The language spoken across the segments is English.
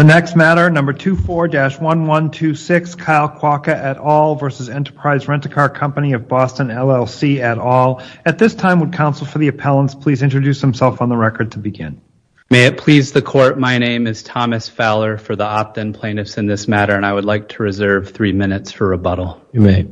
The next matter, number 24-1126, Kyle Kwoka et al. versus Enterprise Rent-A-Car Company of Boston, LLC et al. At this time, would counsel for the appellants please introduce themselves on the record to begin? May it please the court, my name is Thomas Fowler for the opt-in plaintiffs in this matter, and I would like to reserve three minutes for rebuttal. You may.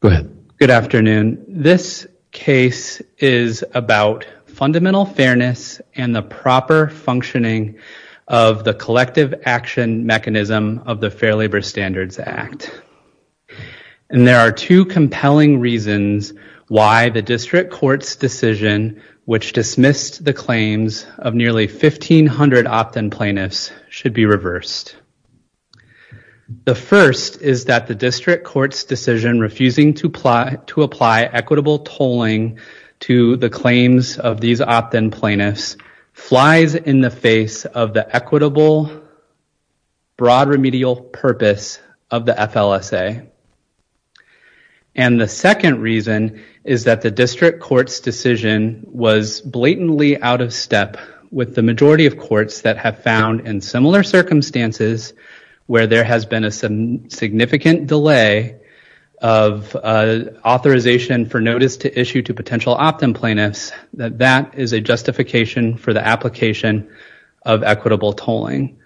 Go ahead. Good afternoon. This case is about fundamental fairness and the proper functioning of the collective action mechanism of the Fair Labor Standards Act. And there are two compelling reasons why the district court's decision, which dismissed the claims of nearly 1,500 opt-in plaintiffs, should be reversed. The first is that the district court's decision refusing to apply equitable tolling to the claims of these opt-in plaintiffs flies in the face of the equitable broad remedial purpose of the FLSA. And the second reason is that the district court's decision was blatantly out of step with the majority of courts that have found in similar circumstances where there has been a significant delay of authorization for notice to issue to potential opt-in plaintiffs that that is a justification for the application of equitable tolling.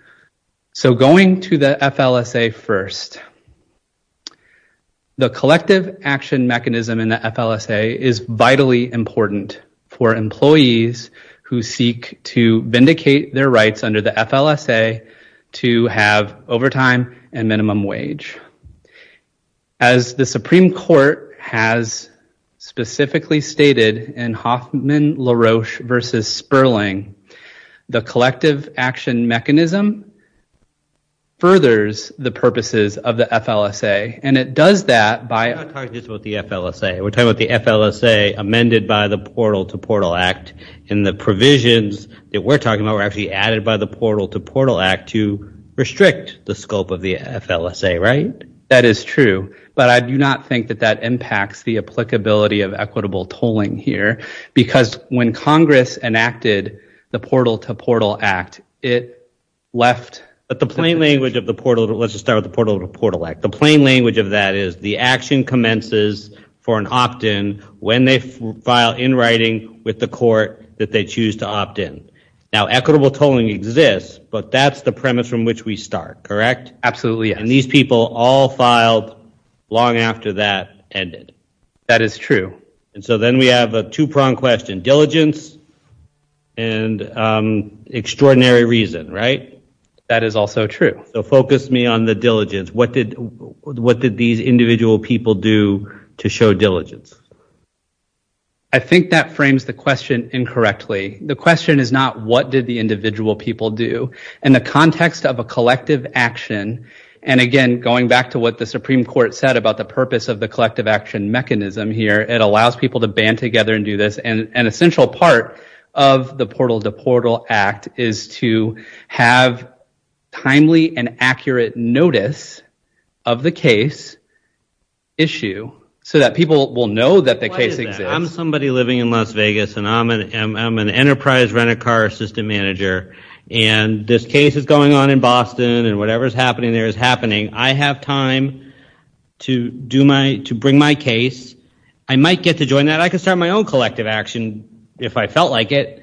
So going to the FLSA first, the collective action mechanism in the FLSA is vitally important for employees who seek to vindicate their rights under the FLSA to have overtime and minimum wage. As the Supreme Court has specifically stated in Hoffman-LaRoche v. Sperling, the collective action mechanism furthers the purposes of the FLSA, and it does that by- And the provisions that we're talking about were actually added by the Portal to Portal Act to restrict the scope of the FLSA, right? That is true, but I do not think that that impacts the applicability of equitable tolling here because when Congress enacted the Portal to Portal Act, it left- But the plain language of the Portal to Portal Act, the plain language of that is the action that they choose to opt in. Now equitable tolling exists, but that's the premise from which we start, correct? Absolutely, yes. And these people all filed long after that ended. That is true. And so then we have a two-pronged question, diligence and extraordinary reason, right? That is also true. So focus me on the diligence. What did these individual people do to show diligence? I think that frames the question incorrectly. The question is not what did the individual people do. In the context of a collective action, and again, going back to what the Supreme Court said about the purpose of the collective action mechanism here, it allows people to band together and do this. And an essential part of the Portal to Portal Act is to have timely and accurate notice of the case issue so that people will know that the case exists. Why is that? I'm somebody living in Las Vegas, and I'm an enterprise renter car assistant manager, and this case is going on in Boston, and whatever's happening there is happening. I have time to bring my case. I might get to join that. I could start my own collective action if I felt like it.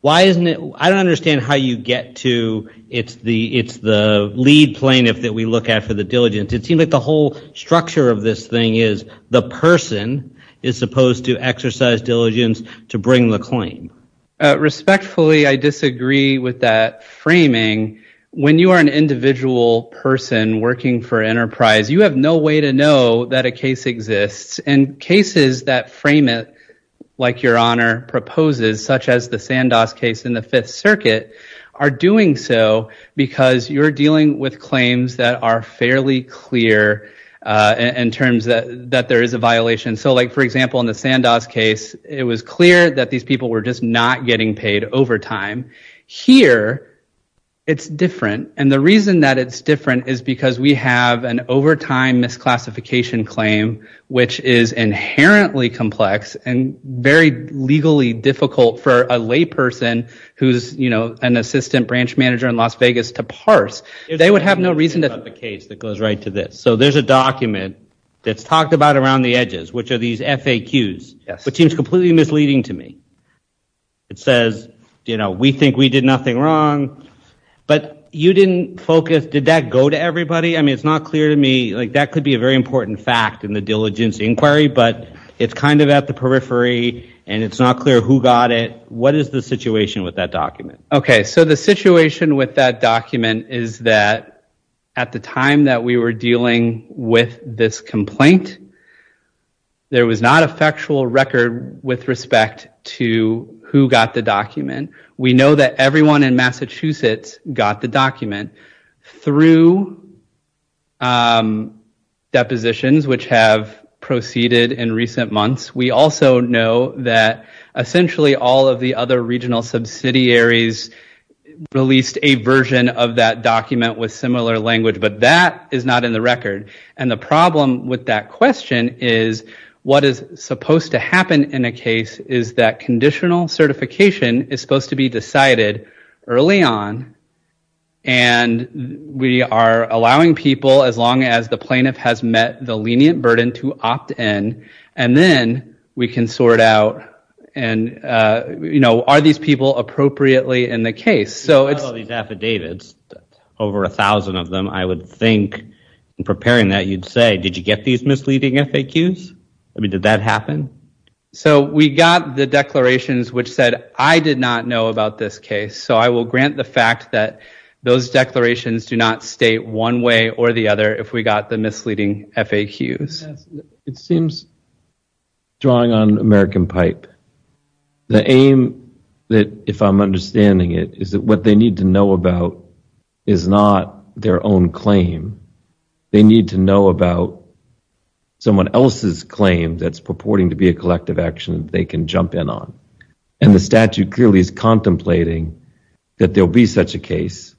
Why isn't it- I don't understand how you get to- it's the lead plaintiff that we look at for the diligence. It seems like the whole structure of this thing is the person is supposed to exercise diligence to bring the claim. Respectfully, I disagree with that framing. When you are an individual person working for enterprise, you have no way to know that a case exists. And cases that frame it, like Your Honor proposes, such as the Sandos case in the Fifth Circuit, are doing so because you're dealing with claims that are fairly clear in terms that there is a violation. So, for example, in the Sandos case, it was clear that these people were just not getting paid overtime. Here, it's different, and the reason that it's different is because we have an overtime misclassification claim, which is inherently complex and very legally difficult for a lay person who's an assistant branch manager in Las Vegas to parse. They would have no reason to- It's about the case that goes right to this. So there's a document that's talked about around the edges, which are these FAQs, which seems completely misleading to me. It says, we think we did nothing wrong, but you didn't focus- did that go to everybody? It's not clear to me- that could be a very important fact in the diligence inquiry, but it's kind of at the periphery, and it's not clear who got it. What is the situation with that document? Okay, so the situation with that document is that at the time that we were dealing with this complaint, there was not a factual record with respect to who got the document. We know that everyone in Massachusetts got the document through depositions, which have proceeded in recent months. We also know that essentially all of the other regional subsidiaries released a version of that document with similar language, but that is not in the record. And the problem with that question is, what is supposed to happen in a case is that conditional certification is supposed to be decided early on, and we are allowing people, as long as the plaintiff has met the lenient burden to opt-in, and then we can sort out, are these people appropriately in the case? So it's- If you follow these affidavits, over a thousand of them, I would think, in preparing that, you'd say, did you get these misleading FAQs? I mean, did that happen? So we got the declarations which said, I did not know about this case, so I will grant the fact that those declarations do not state one way or the other if we got the misleading FAQs. It seems, drawing on American Pipe, the aim, if I'm understanding it, is that what they need to know about is not their own claim. They need to know about someone else's claim that's purporting to be a collective action they can jump in on. And the statute clearly is contemplating that there will be such a case,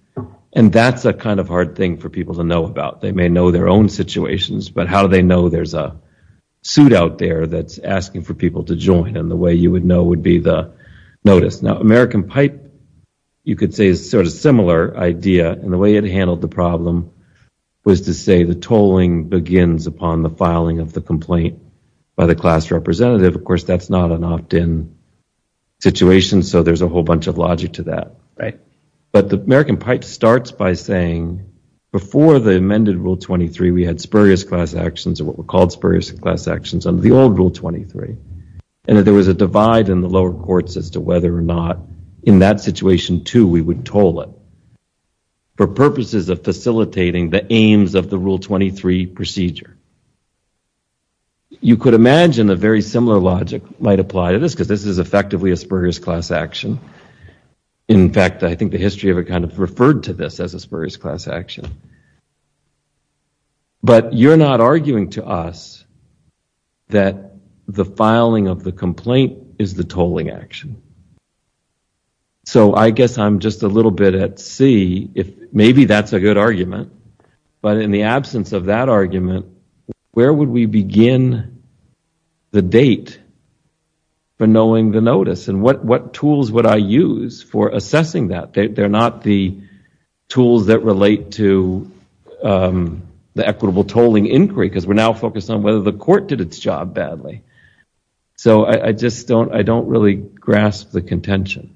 and that's a kind of hard thing for people to know about. They may know their own situations, but how do they know there's a suit out there that's asking for people to join, and the way you would know would be the notice. Now, American Pipe, you could say, is sort of a similar idea, and the way it handled the problem was to say the tolling begins upon the filing of the complaint by the class representative. Of course, that's not an opt-in situation, so there's a whole bunch of logic to that. But the American Pipe starts by saying, before the amended Rule 23, we had spurious class actions, or what were called spurious class actions, under the old Rule 23, and that there was a divide in the lower courts as to whether or not, in that situation, too, we would toll it for purposes of facilitating the aims of the Rule 23 procedure. You could imagine a very similar logic might apply to this, because this is effectively a spurious class action. In fact, I think the history of it kind of referred to this as a spurious class action. But you're not arguing to us that the filing of the complaint is the tolling action. So I guess I'm just a little bit at sea. Maybe that's a good argument, but in the absence of that argument, where would we begin the date for knowing the notice, and what tools would I use for assessing that? They're not the tools that relate to the equitable tolling inquiry, because we're now focused on whether the court did its job badly. So I just don't really grasp the contention.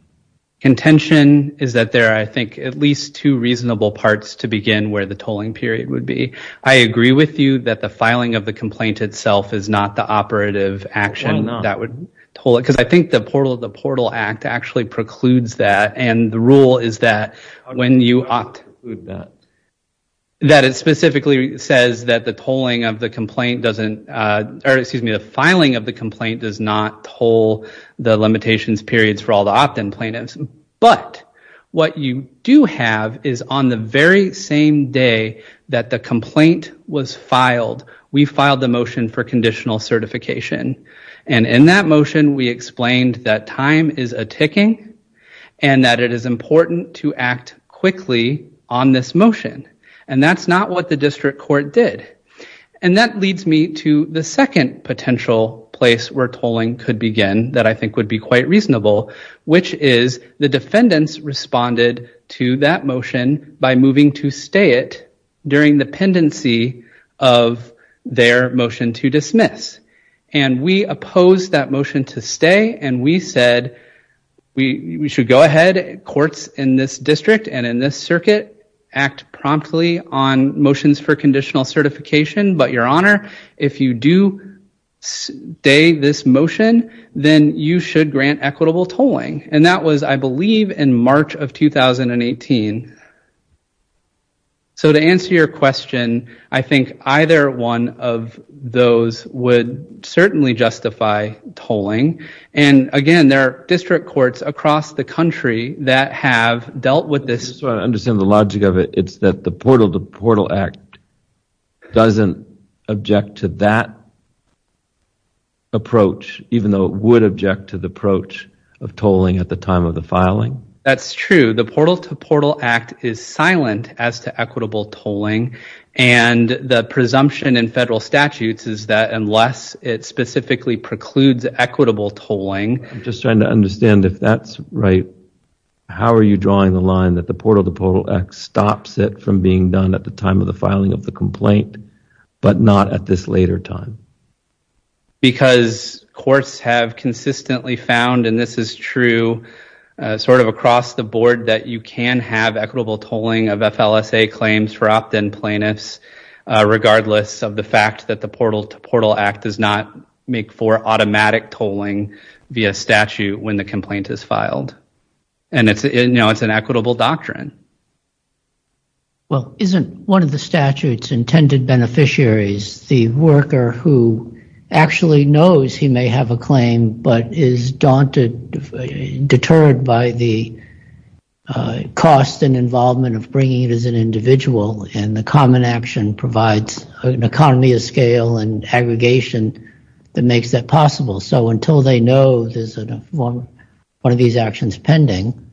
Contention is that there are, I think, at least two reasonable parts to begin where the tolling period would be. I agree with you that the filing of the complaint itself is not the operative action that would toll it, because I think the Portal Act actually precludes that, and the rule is that when you opt, that it specifically says that the filing of the complaint does not toll the limitations periods for all the opt-in plaintiffs. But what you do have is on the very same day that the complaint was filed, we filed the motion for conditional certification. And in that motion, we explained that time is a ticking, and that it is important to act quickly on this motion. And that's not what the district court did. And that leads me to the second potential place where tolling could begin that I think would be quite reasonable, which is the defendants responded to that motion by moving to stay it during the pendency of their motion to dismiss. And we opposed that motion to stay, and we said we should go ahead, courts in this district and in this circuit, act promptly on motions for conditional certification. But your honor, if you do stay this motion, then you should grant equitable tolling. And that was, I believe, in March of 2018. So to answer your question, I think either one of those would certainly justify tolling. And again, there are district courts across the country that have dealt with this. I just don't understand the logic of it. It's that the Portal to Portal Act doesn't object to that approach, even though it would object to the approach of tolling at the time of the filing? That's true. The Portal to Portal Act is silent as to equitable tolling. And the presumption in federal statutes is that unless it specifically precludes equitable tolling. I'm just trying to understand if that's right. How are you drawing the line that the Portal to Portal Act stops it from being done at the time of the filing of the complaint, but not at this later time? Because courts have consistently found, and this is true sort of across the board, that you can have equitable tolling of FLSA claims for opt-in plaintiffs, regardless of the fact that the Portal to Portal Act does not make for automatic tolling via statute when the complaint is filed. And it's an equitable doctrine. Well, isn't one of the statute's intended beneficiaries the worker who actually knows he may have a claim, but is daunted, deterred by the cost and involvement of bringing it as an individual, and the common action provides an economy of scale and aggregation that makes that possible? So until they know there's one of these actions pending,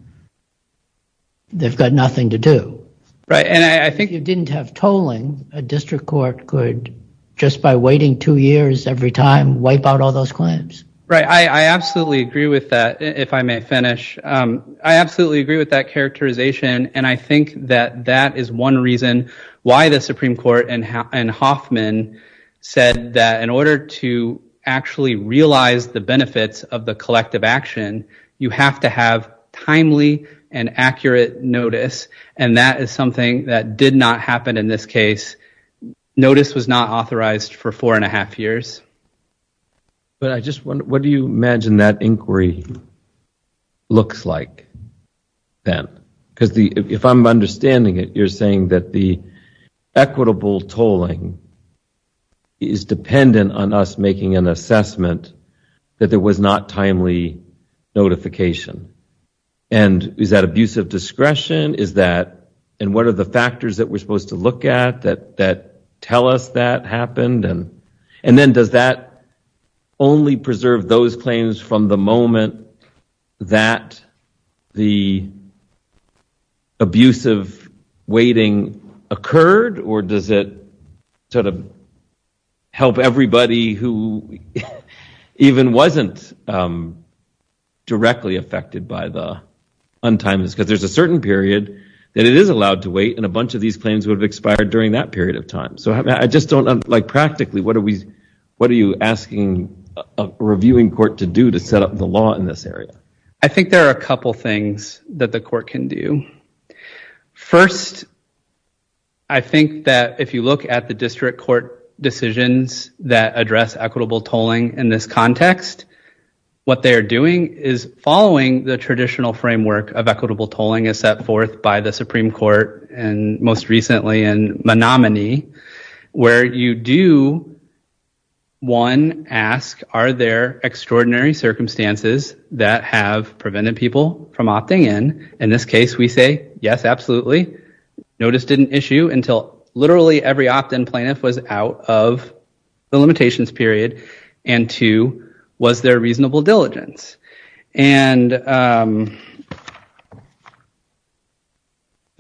they've got nothing to do. Right. And I think... If you didn't have tolling, a district court could, just by waiting two years every time, wipe out all those claims. Right. I absolutely agree with that, if I may finish. I absolutely agree with that characterization. And I think that that is one reason why the Supreme Court and Hoffman said that in order to actually realize the benefits of the collective action, you have to have timely and accurate notice. And that is something that did not happen in this case. Notice was not authorized for four and a half years. But I just wonder, what do you imagine that inquiry looks like, then? Because if I'm understanding it, you're saying that the equitable tolling is dependent on us making an assessment that there was not timely notification. And is that abusive discretion? Is that... And what are the factors that we're supposed to look at that tell us that happened? And then, does that only preserve those claims from the moment that the abusive waiting occurred? Or does it sort of help everybody who even wasn't directly affected by the untimeliness? Because there's a certain period that it is allowed to wait, and a bunch of these claims would have expired during that period of time. So I just don't know, practically, what are you asking a reviewing court to do to set up the law in this area? I think there are a couple things that the court can do. First, I think that if you look at the district court decisions that address equitable tolling in this context, what they are doing is following the traditional framework of equitable tolling as set forth by the Supreme Court, and most recently in Menominee, where you do, one, ask are there extraordinary circumstances that have prevented people from opting in? In this case, we say, yes, absolutely. Notice didn't issue until literally every opt-in plaintiff was out of the limitations period, and two, was there reasonable diligence? And the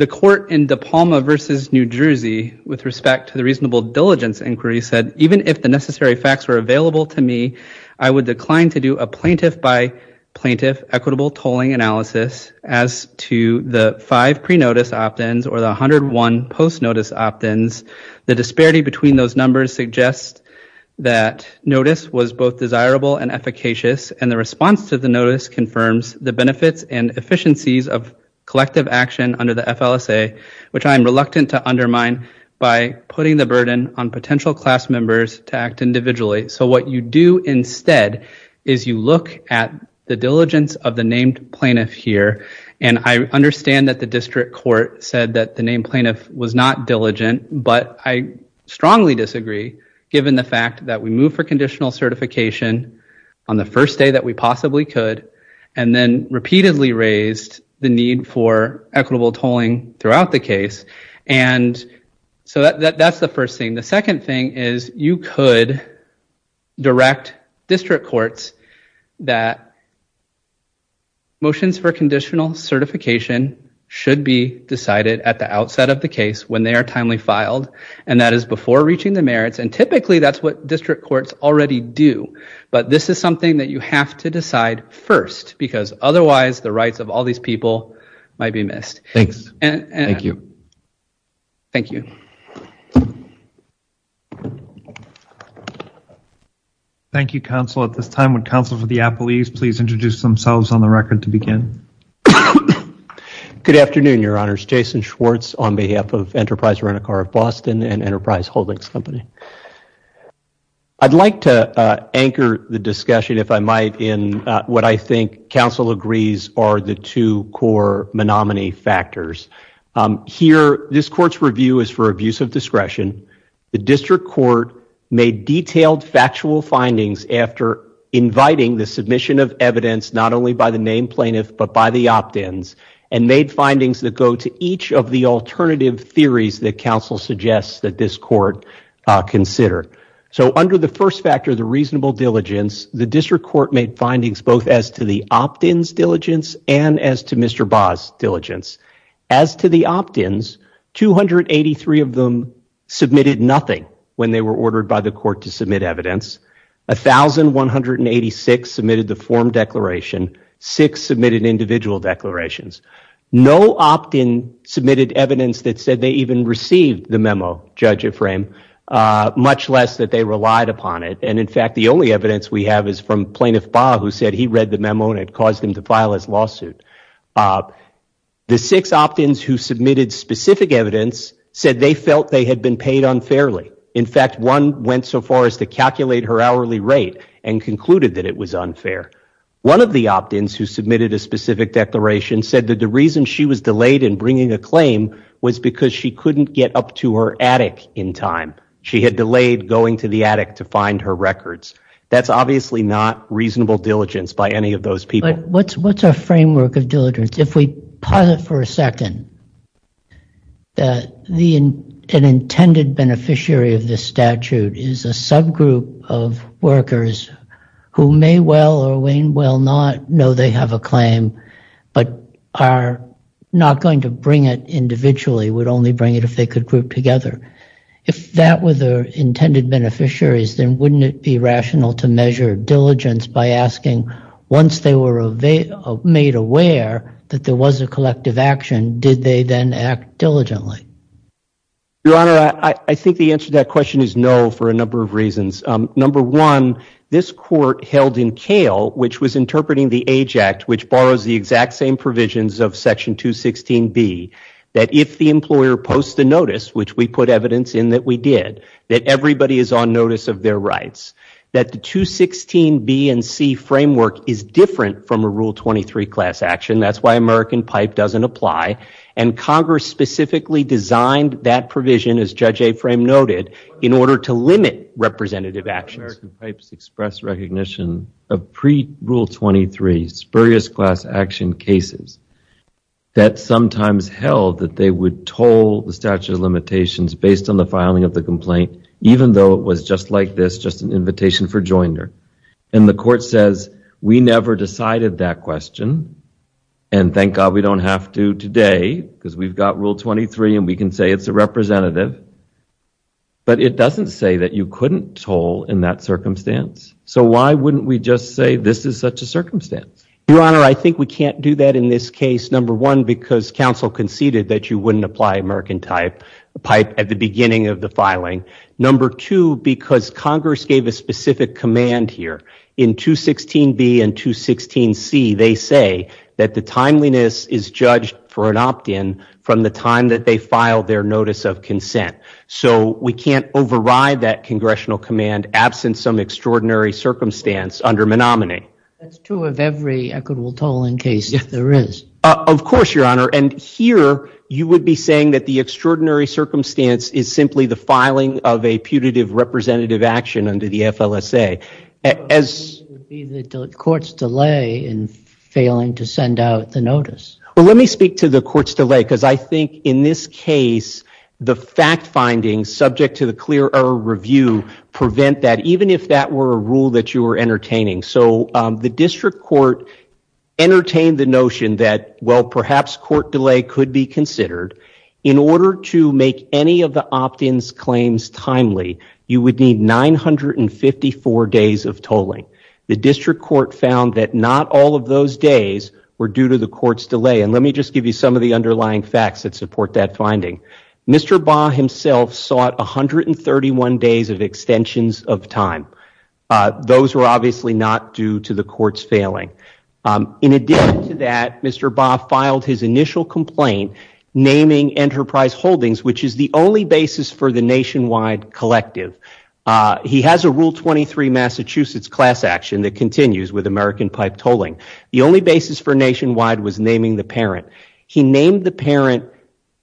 court in DePalma versus New Jersey, with respect to the reasonable diligence inquiry, said, even if the necessary facts were available to me, I would decline to do a plaintiff by plaintiff equitable tolling analysis as to the five pre-notice opt-ins or the 101 post-notice opt-ins. The disparity between those numbers suggests that notice was both desirable and efficacious, and the response to the notice confirms the benefits and efficiencies of collective action under the FLSA, which I am reluctant to undermine by putting the burden on potential class members to act individually. So what you do instead is you look at the diligence of the named plaintiff here, and I understand that the district court said that the named plaintiff was not diligent, but I strongly disagree, given the fact that we moved for conditional certification on the first day that we possibly could, and then repeatedly raised the need for equitable tolling throughout the case, and so that's the first thing. The second thing is you could direct district courts that motions for conditional certification should be decided at the outset of the case when they are timely filed, and that is before reaching the merits, and typically that's what district courts already do, but this is something that you have to decide first, because otherwise the rights of all these people might be missed. Thank you. Thank you. Thank you, counsel. At this time, would counsel for the appellees please introduce themselves on the record to begin? Good afternoon, your honors. Jason Schwartz on behalf of Enterprise Rent-A-Car of Boston and Enterprise Holdings Company. I'd like to anchor the discussion, if I might, in what I think counsel agrees are the two core menominee factors. Here, this court's review is for abuse of discretion. The district court made detailed factual findings after inviting the submission of evidence not only by the named plaintiff, but by the opt-ins, and made findings that go to each of the alternative theories that counsel suggests that this court consider. So under the first factor, the reasonable diligence, the district court made findings both as to the opt-ins diligence and as to Mr. Baugh's diligence. As to the opt-ins, 283 of them submitted nothing when they were ordered by the court to submit evidence, 1,186 submitted the form declaration, six submitted individual declarations. No opt-in submitted evidence that said they even received the memo, Judge Ephraim, much less that they relied upon it, and in fact the only evidence we have is from Plaintiff Baugh who said he read the memo and it caused him to file his lawsuit. The six opt-ins who submitted specific evidence said they felt they had been paid unfairly. In fact, one went so far as to calculate her hourly rate and concluded that it was unfair. One of the opt-ins who submitted a specific declaration said that the reason she was delayed in bringing a claim was because she couldn't get up to her attic in time. She had delayed going to the attic to find her records. That's obviously not reasonable diligence by any of those people. What's our framework of diligence? If we pause it for a second, an intended beneficiary of this statute is a subgroup of workers who may well or may not know they have a claim but are not going to bring it individually, would only bring it if they could group together. If that were the intended beneficiaries, then wouldn't it be rational to measure diligence by asking once they were made aware that there was a collective action, did they then act diligently? Your Honor, I think the answer to that question is no for a number of reasons. Number one, this court held in Kale, which was interpreting the Age Act, which borrows the exact same provisions of Section 216B, that if the employer posts a notice, which we put evidence in that we did, that everybody is on notice of their rights, that the 216B and C framework is different from a Rule 23 class action. That's why American Pipe doesn't apply. Congress specifically designed that provision, as Judge Aframe noted, in order to limit representative actions. American Pipes expressed recognition of pre-Rule 23 spurious class action cases that sometimes held that they would toll the statute of limitations based on the filing of the complaint, even though it was just like this, just an invitation for joinder. The court says, we never decided that question, and thank God we don't have to today because we've got Rule 23 and we can say it's a representative, but it doesn't say that you couldn't toll in that circumstance. So why wouldn't we just say this is such a circumstance? Your Honor, I think we can't do that in this case, number one, because counsel conceded that you wouldn't apply American Pipe at the beginning of the filing. Number two, because Congress gave a specific command here in 216B and 216C. They say that the timeliness is judged for an opt-in from the time that they filed their notice of consent. So we can't override that congressional command absent some extraordinary circumstance under Menominee. That's true of every equitable tolling case there is. Of course, Your Honor, and here you would be saying that the extraordinary circumstance is simply the filing of a putative representative action under the FLSA. As the courts delay in failing to send out the notice. Let me speak to the court's delay, because I think in this case, the fact findings subject to the clear error review prevent that, even if that were a rule that you were entertaining. So the district court entertained the notion that, well, perhaps court delay could be considered. In order to make any of the opt-in's claims timely, you would need 954 days of tolling. The district court found that not all of those days were due to the court's delay, and let me just give you some of the underlying facts that support that finding. Mr. Baugh himself sought 131 days of extensions of time. Those were obviously not due to the court's failing. In addition to that, Mr. Baugh filed his initial complaint naming Enterprise Holdings, which is the only basis for the nationwide collective. He has a Rule 23 Massachusetts class action that continues with American pipe tolling. The only basis for nationwide was naming the parent. He named the parent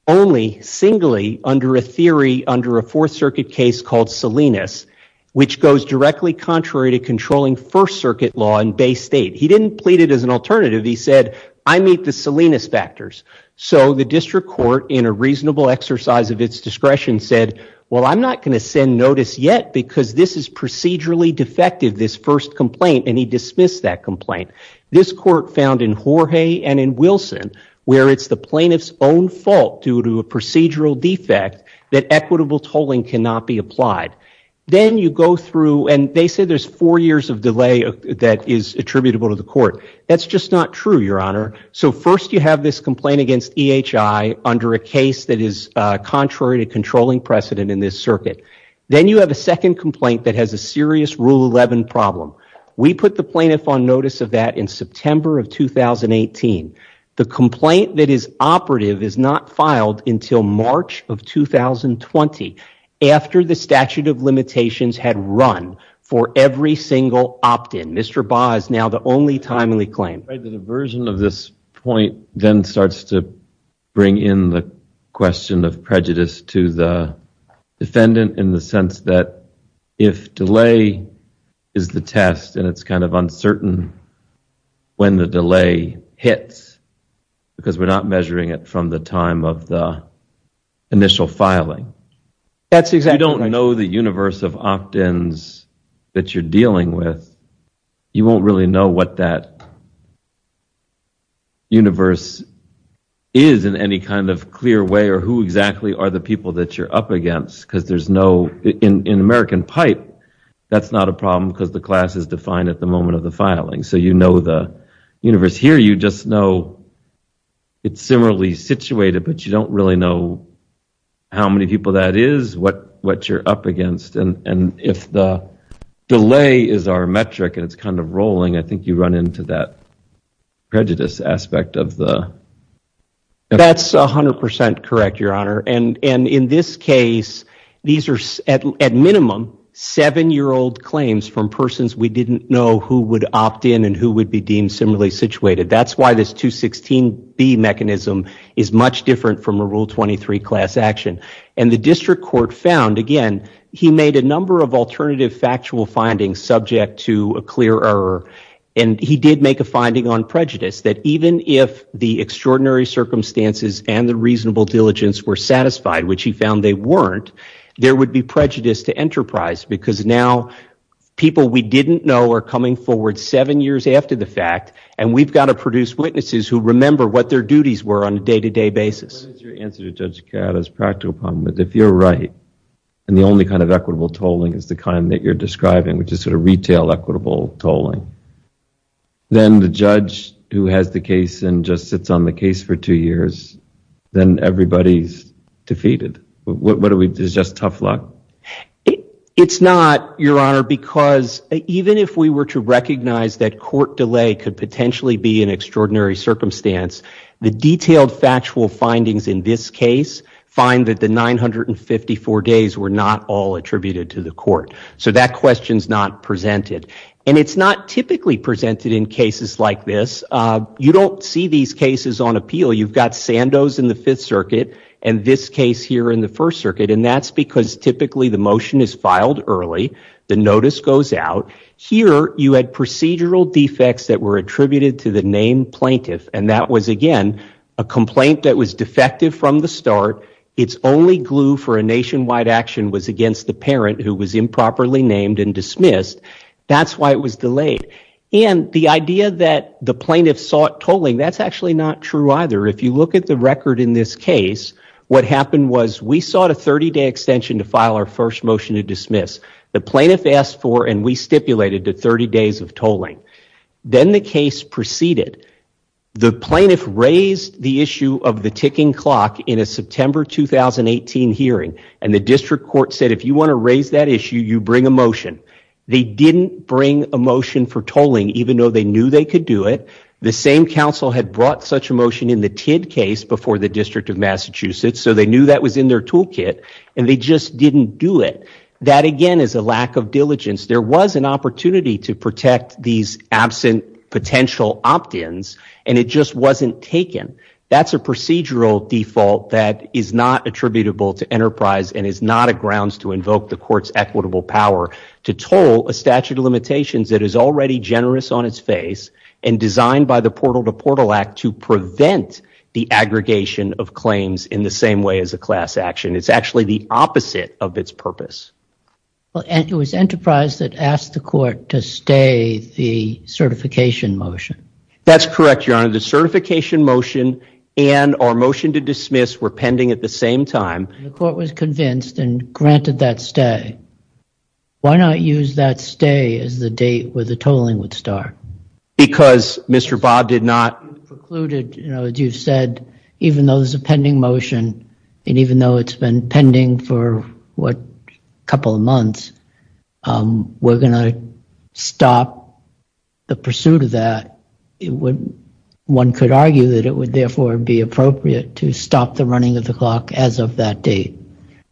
only singly under a theory under a Fourth Circuit case called Salinas, which goes directly contrary to controlling First Circuit law in Bay State. He didn't plead it as an alternative. He said, I meet the Salinas factors. So the district court, in a reasonable exercise of its discretion, said, well, I'm not going to send notice yet because this is procedurally defective, this first complaint, and he dismissed that complaint. This court found in Jorge and in Wilson, where it's the plaintiff's own fault due to a procedural defect that equitable tolling cannot be applied. Then you go through, and they said there's four years of delay that is attributable to the court. That's just not true, Your Honor. So first you have this complaint against EHI under a case that is contrary to controlling precedent in this circuit. Then you have a second complaint that has a serious Rule 11 problem. We put the plaintiff on notice of that in September of 2018. The complaint that is operative is not filed until March of 2020, after the statute of limitations had run for every single opt-in. Mr. Baugh is now the only timely claim. I'm afraid the diversion of this point then starts to bring in the question of prejudice to the defendant in the sense that if delay is the test, and it's kind of uncertain when the delay hits because we're not measuring it from the time of the initial filing. That's exactly right. You don't know the universe of opt-ins that you're dealing with. You won't really know what that universe is in any kind of clear way or who exactly are the people that you're up against because there's no, in American pipe, that's not a problem because the class is defined at the moment of the filing. So you know the universe. Here you just know it's similarly situated, but you don't really know how many people that is, what you're up against. If the delay is our metric and it's kind of rolling, I think you run into that prejudice aspect of the... That's 100% correct, Your Honor. In this case, these are at minimum seven-year-old claims from persons we didn't know who would opt-in and who would be deemed similarly situated. That's why this 216B mechanism is much different from a Rule 23 class action. The district court found, again, he made a number of alternative factual findings subject to a clear error and he did make a finding on prejudice that even if the extraordinary circumstances and the reasonable diligence were satisfied, which he found they weren't, there would be prejudice to enterprise because now people we didn't know are coming forward seven years after the fact and we've got to produce witnesses who remember what their duties were on a day-to-day basis. Your answer to Judge Catt is practical, but if you're right and the only kind of equitable tolling is the kind that you're describing, which is sort of retail equitable tolling, then the judge who has the case and just sits on the case for two years, then everybody's Is it just tough luck? It's not, Your Honor, because even if we were to recognize that court delay could potentially be an extraordinary circumstance, the detailed factual findings in this case find that the 954 days were not all attributed to the court, so that question's not presented. It's not typically presented in cases like this. You don't see these cases on appeal. You've got Sandoz in the Fifth Circuit and this case here in the First Circuit and that's because typically the motion is filed early, the notice goes out. Here you had procedural defects that were attributed to the named plaintiff and that was again a complaint that was defective from the start. Its only glue for a nationwide action was against the parent who was improperly named and dismissed. That's why it was delayed and the idea that the plaintiff sought tolling, that's actually not true either. If you look at the record in this case, what happened was we sought a 30-day extension to file our first motion to dismiss. The plaintiff asked for and we stipulated a 30 days of tolling. Then the case proceeded. The plaintiff raised the issue of the ticking clock in a September 2018 hearing and the district court said if you want to raise that issue, you bring a motion. They didn't bring a motion for tolling even though they knew they could do it. The same council had brought such a motion in the Tidd case before the District of Massachusetts so they knew that was in their toolkit and they just didn't do it. That again is a lack of diligence. There was an opportunity to protect these absent potential opt-ins and it just wasn't taken. That's a procedural default that is not attributable to enterprise and is not a grounds to invoke the court's equitable power to toll a statute of limitations that is already generous on its face and designed by the Portal to Portal Act to prevent the aggregation of claims in the same way as a class action. It's actually the opposite of its purpose. It was enterprise that asked the court to stay the certification motion. That's correct, your honor. The certification motion and our motion to dismiss were pending at the same time. The court was convinced and granted that stay. Why not use that stay as the date where the tolling would start? Because Mr. Bob did not. As you said, even though there's a pending motion and even though it's been pending for what couple of months, we're going to stop the pursuit of that. One could argue that it would therefore be appropriate to stop the running of the clock as of that date.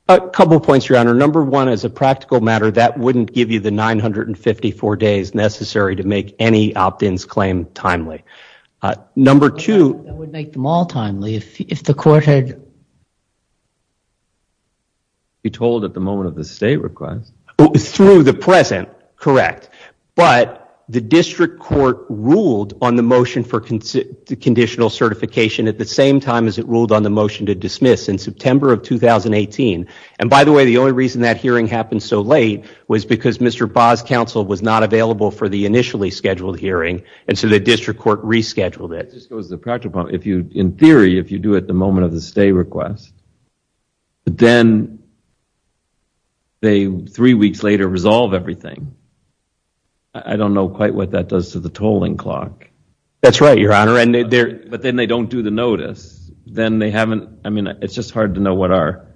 Couple points, your honor. Number one, as a practical matter, that wouldn't give you the 954 days necessary to make any opt-ins claim timely. Number two... That would make them all timely if the court had... Be told at the moment of the stay request. Through the present, correct. But the district court ruled on the motion for conditional certification at the same time as it ruled on the motion to dismiss in September of 2018. By the way, the only reason that hearing happened so late was because Mr. Bob's counsel was not available for the initially scheduled hearing, and so the district court rescheduled it. In theory, if you do it at the moment of the stay request, then they three weeks later resolve everything. I don't know quite what that does to the tolling clock. That's right, your honor. But then they don't do the notice. Then they haven't... I mean, it's just hard to know what our...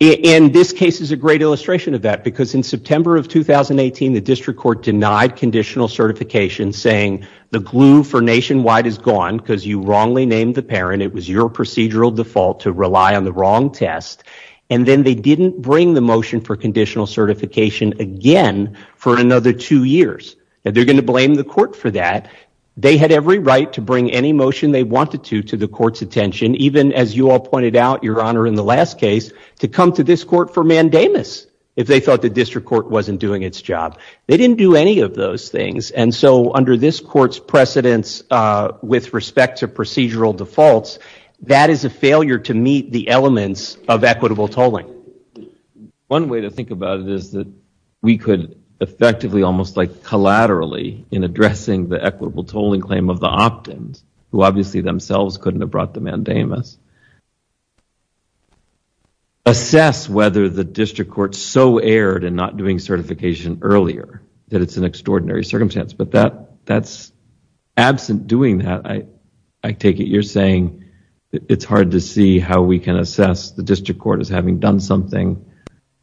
And this case is a great illustration of that, because in September of 2018, the district court denied conditional certification, saying the glue for nationwide is gone because you wrongly named the parent. It was your procedural default to rely on the wrong test. And then they didn't bring the motion for conditional certification again for another two years. And they're going to blame the court for that. They had every right to bring any motion they wanted to to the court's attention, even as you all pointed out, your honor, in the last case, to come to this court for mandamus if they thought the district court wasn't doing its job. They didn't do any of those things. And so under this court's precedence with respect to procedural defaults, that is a failure to meet the elements of equitable tolling. One way to think about it is that we could effectively almost like collaterally in addressing the equitable tolling claim of the opt-ins, who obviously themselves couldn't have brought the mandamus, assess whether the district court so erred in not doing certification earlier that it's an extraordinary circumstance. But absent doing that, I take it you're saying it's hard to see how we can assess the district court as having done something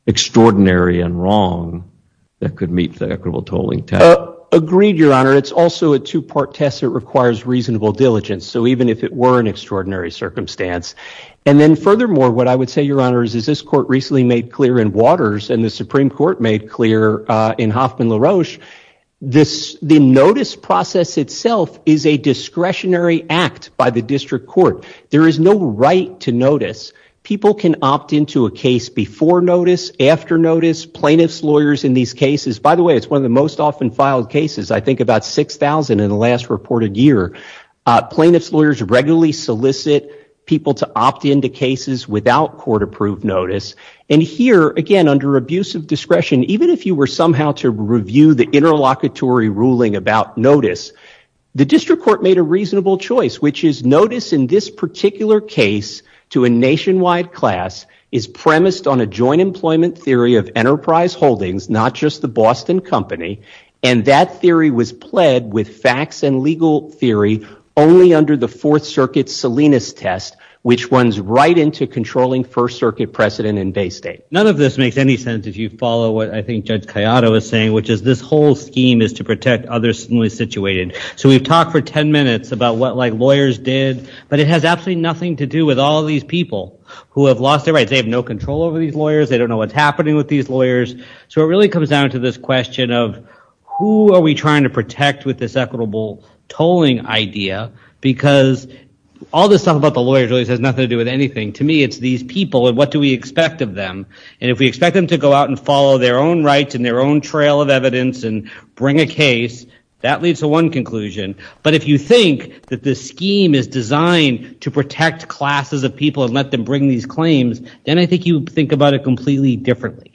extraordinary and wrong that could meet the equitable tolling test. Agreed, your honor. It's also a two-part test that requires reasonable diligence. So even if it were an extraordinary circumstance. And then furthermore, what I would say, your honor, is this court recently made clear in Waters and the Supreme Court made clear in Hoffman-LaRoche, the notice process itself is a discretionary act by the district court. There is no right to notice. People can opt into a case before notice, after notice, plaintiff's lawyers in these cases. By the way, it's one of the most often filed cases, I think about 6,000 in the last reported year. Plaintiff's lawyers regularly solicit people to opt into cases without court-approved notice. And here, again, under abuse of discretion, even if you were somehow to review the interlocutory ruling about notice, the district court made a reasonable choice, which is notice in this particular case to a nationwide class is premised on a joint employment theory of Enterprise Holdings, not just the Boston Company. And that theory was pled with facts and legal theory only under the Fourth Circuit's Salinas test, which runs right into controlling First Circuit precedent in Bay State. None of this makes any sense if you follow what I think Judge Cayata was saying, which is this whole scheme is to protect others who are situated. So we've talked for 10 minutes about what lawyers did, but it has absolutely nothing to do with all these people who have lost their rights. They have no control over these lawyers. They don't know what's happening with these lawyers. So it really comes down to this question of, who are we trying to protect with this equitable tolling idea? Because all this stuff about the lawyers really has nothing to do with anything. To me, it's these people, and what do we expect of them? And if we expect them to go out and follow their own rights and their own trail of evidence and bring a case, that leads to one conclusion. But if you think that this scheme is designed to protect classes of people and let them bring these claims, then I think you would think about it completely differently.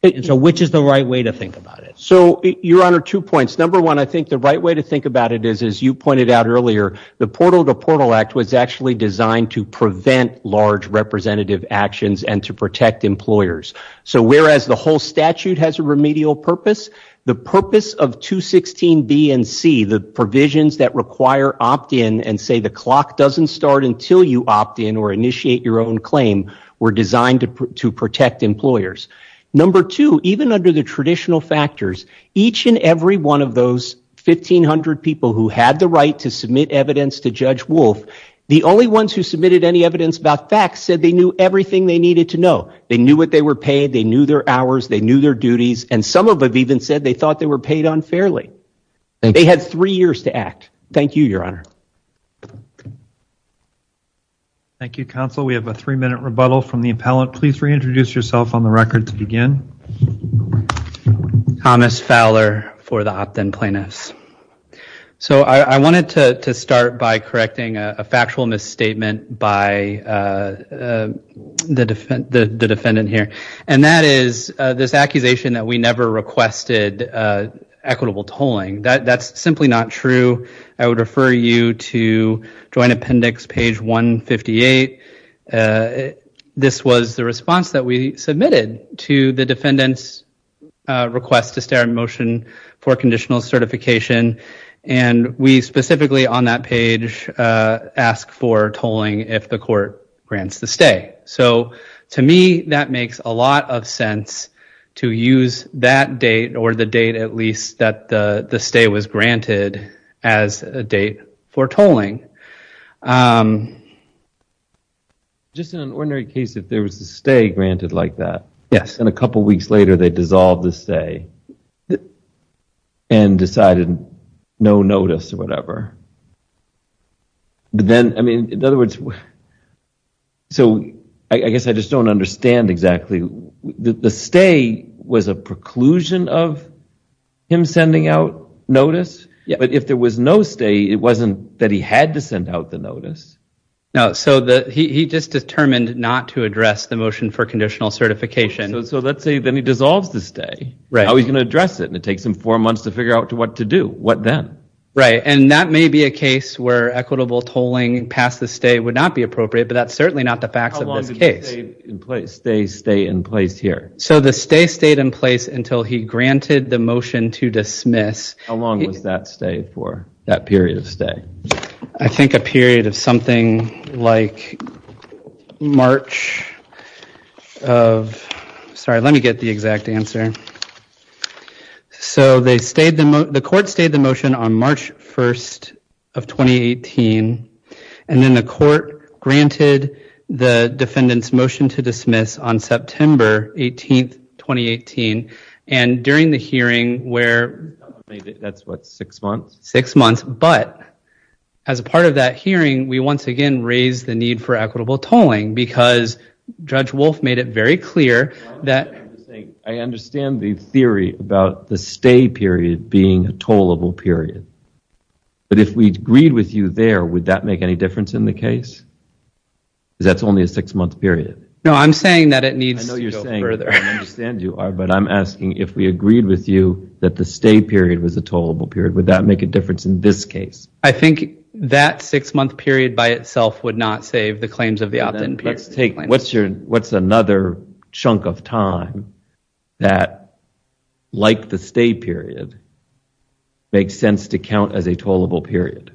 Which is the right way to think about it? So Your Honor, two points. Number one, I think the right way to think about it is, as you pointed out earlier, the Portal to Portal Act was actually designed to prevent large representative actions and to protect employers. So whereas the whole statute has a remedial purpose, the purpose of 216B and C, the provisions that require opt-in and say the clock doesn't start until you opt-in or initiate your own claim, were designed to protect employers. Number two, even under the traditional factors, each and every one of those 1,500 people who had the right to submit evidence to Judge Wolf, the only ones who submitted any evidence about facts said they knew everything they needed to know. They knew what they were paid. They knew their hours. They knew their duties. And some of them even said they thought they were paid unfairly. They had three years to act. Thank you, Your Honor. Thank you, Counsel. We have a three-minute rebuttal from the appellant. Please reintroduce yourself on the record to begin. Thomas Fowler for the opt-in plaintiffs. So I wanted to start by correcting a factual misstatement by the defendant here, and that is this accusation that we never requested equitable tolling. That's simply not true. I would refer you to Joint Appendix page 158. This was the response that we submitted to the defendant's request to stay on motion for conditional certification. And we specifically on that page ask for tolling if the court grants the stay. So to me, that makes a lot of sense to use that date or the date at least that the stay was granted as a date for tolling. Just in an ordinary case, if there was a stay granted like that, and a couple of weeks later, they dissolved the stay and decided no notice or whatever, then, I mean, in other words, so I guess I just don't understand exactly. The stay was a preclusion of him sending out notice. But if there was no stay, it wasn't that he had to send out the notice. So he just determined not to address the motion for conditional certification. So let's say then he dissolves the stay. How are we going to address it? And it takes him four months to figure out what to do. What then? Right. And that may be a case where equitable tolling past the stay would not be appropriate, but that's certainly not the facts of this case. Stay, stay in place here. So the stay stayed in place until he granted the motion to dismiss. How long was that stay for, that period of stay? I think a period of something like March of, sorry, let me get the exact answer. So the court stayed the motion on March 1st of 2018. And then the court granted the defendant's motion to dismiss on September 18th, 2018. And during the hearing, where that's what, six months? But as a part of that hearing, we once again raised the need for equitable tolling. Because Judge Wolf made it very clear that. I understand the theory about the stay period being a tollable period. But if we agreed with you there, would that make any difference in the case? Because that's only a six month period. No, I'm saying that it needs to go further. I know you're saying, I understand you are, but I'm asking, if we agreed with you that the stay period was a tollable period, would that make a difference in this case? I think that six month period by itself would not save the claims of the opt-in period. What's another chunk of time that, like the stay period, makes sense to count as a tollable period?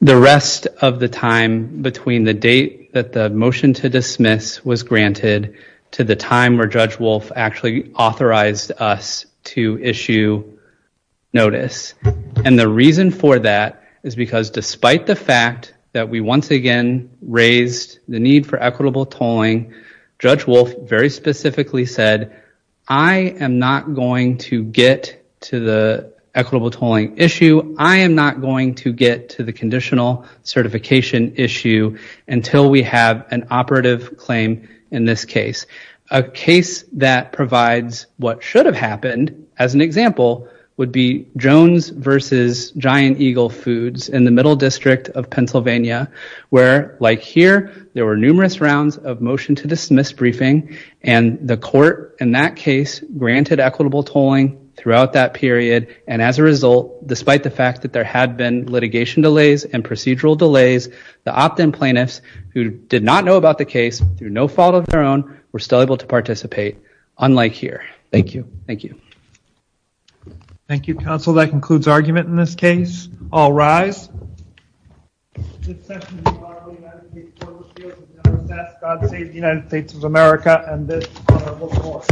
The rest of the time between the date that the motion to dismiss was granted to the time where Judge Wolf actually authorized us to issue notice. And the reason for that is because despite the fact that we once again raised the need for equitable tolling, Judge Wolf very specifically said, I am not going to get to the equitable tolling issue. I am not going to get to the conditional certification issue until we have an operative claim in this case. A case that provides what should have happened, as an example, would be Jones versus Giant Eagle Foods in the Middle District of Pennsylvania, where, like here, there were numerous rounds of motion to dismiss briefing. And the court, in that case, granted equitable tolling throughout that period. And as a result, despite the fact that there had been litigation delays and procedural delays, the opt-in plaintiffs, who did not know about the case through no fault of their own, were still able to participate, unlike here. Thank you. Thank you. Thank you, counsel. That concludes argument in this case. All rise. This session is part of the United States Court of Appeals that states the United States of America and this honorable court.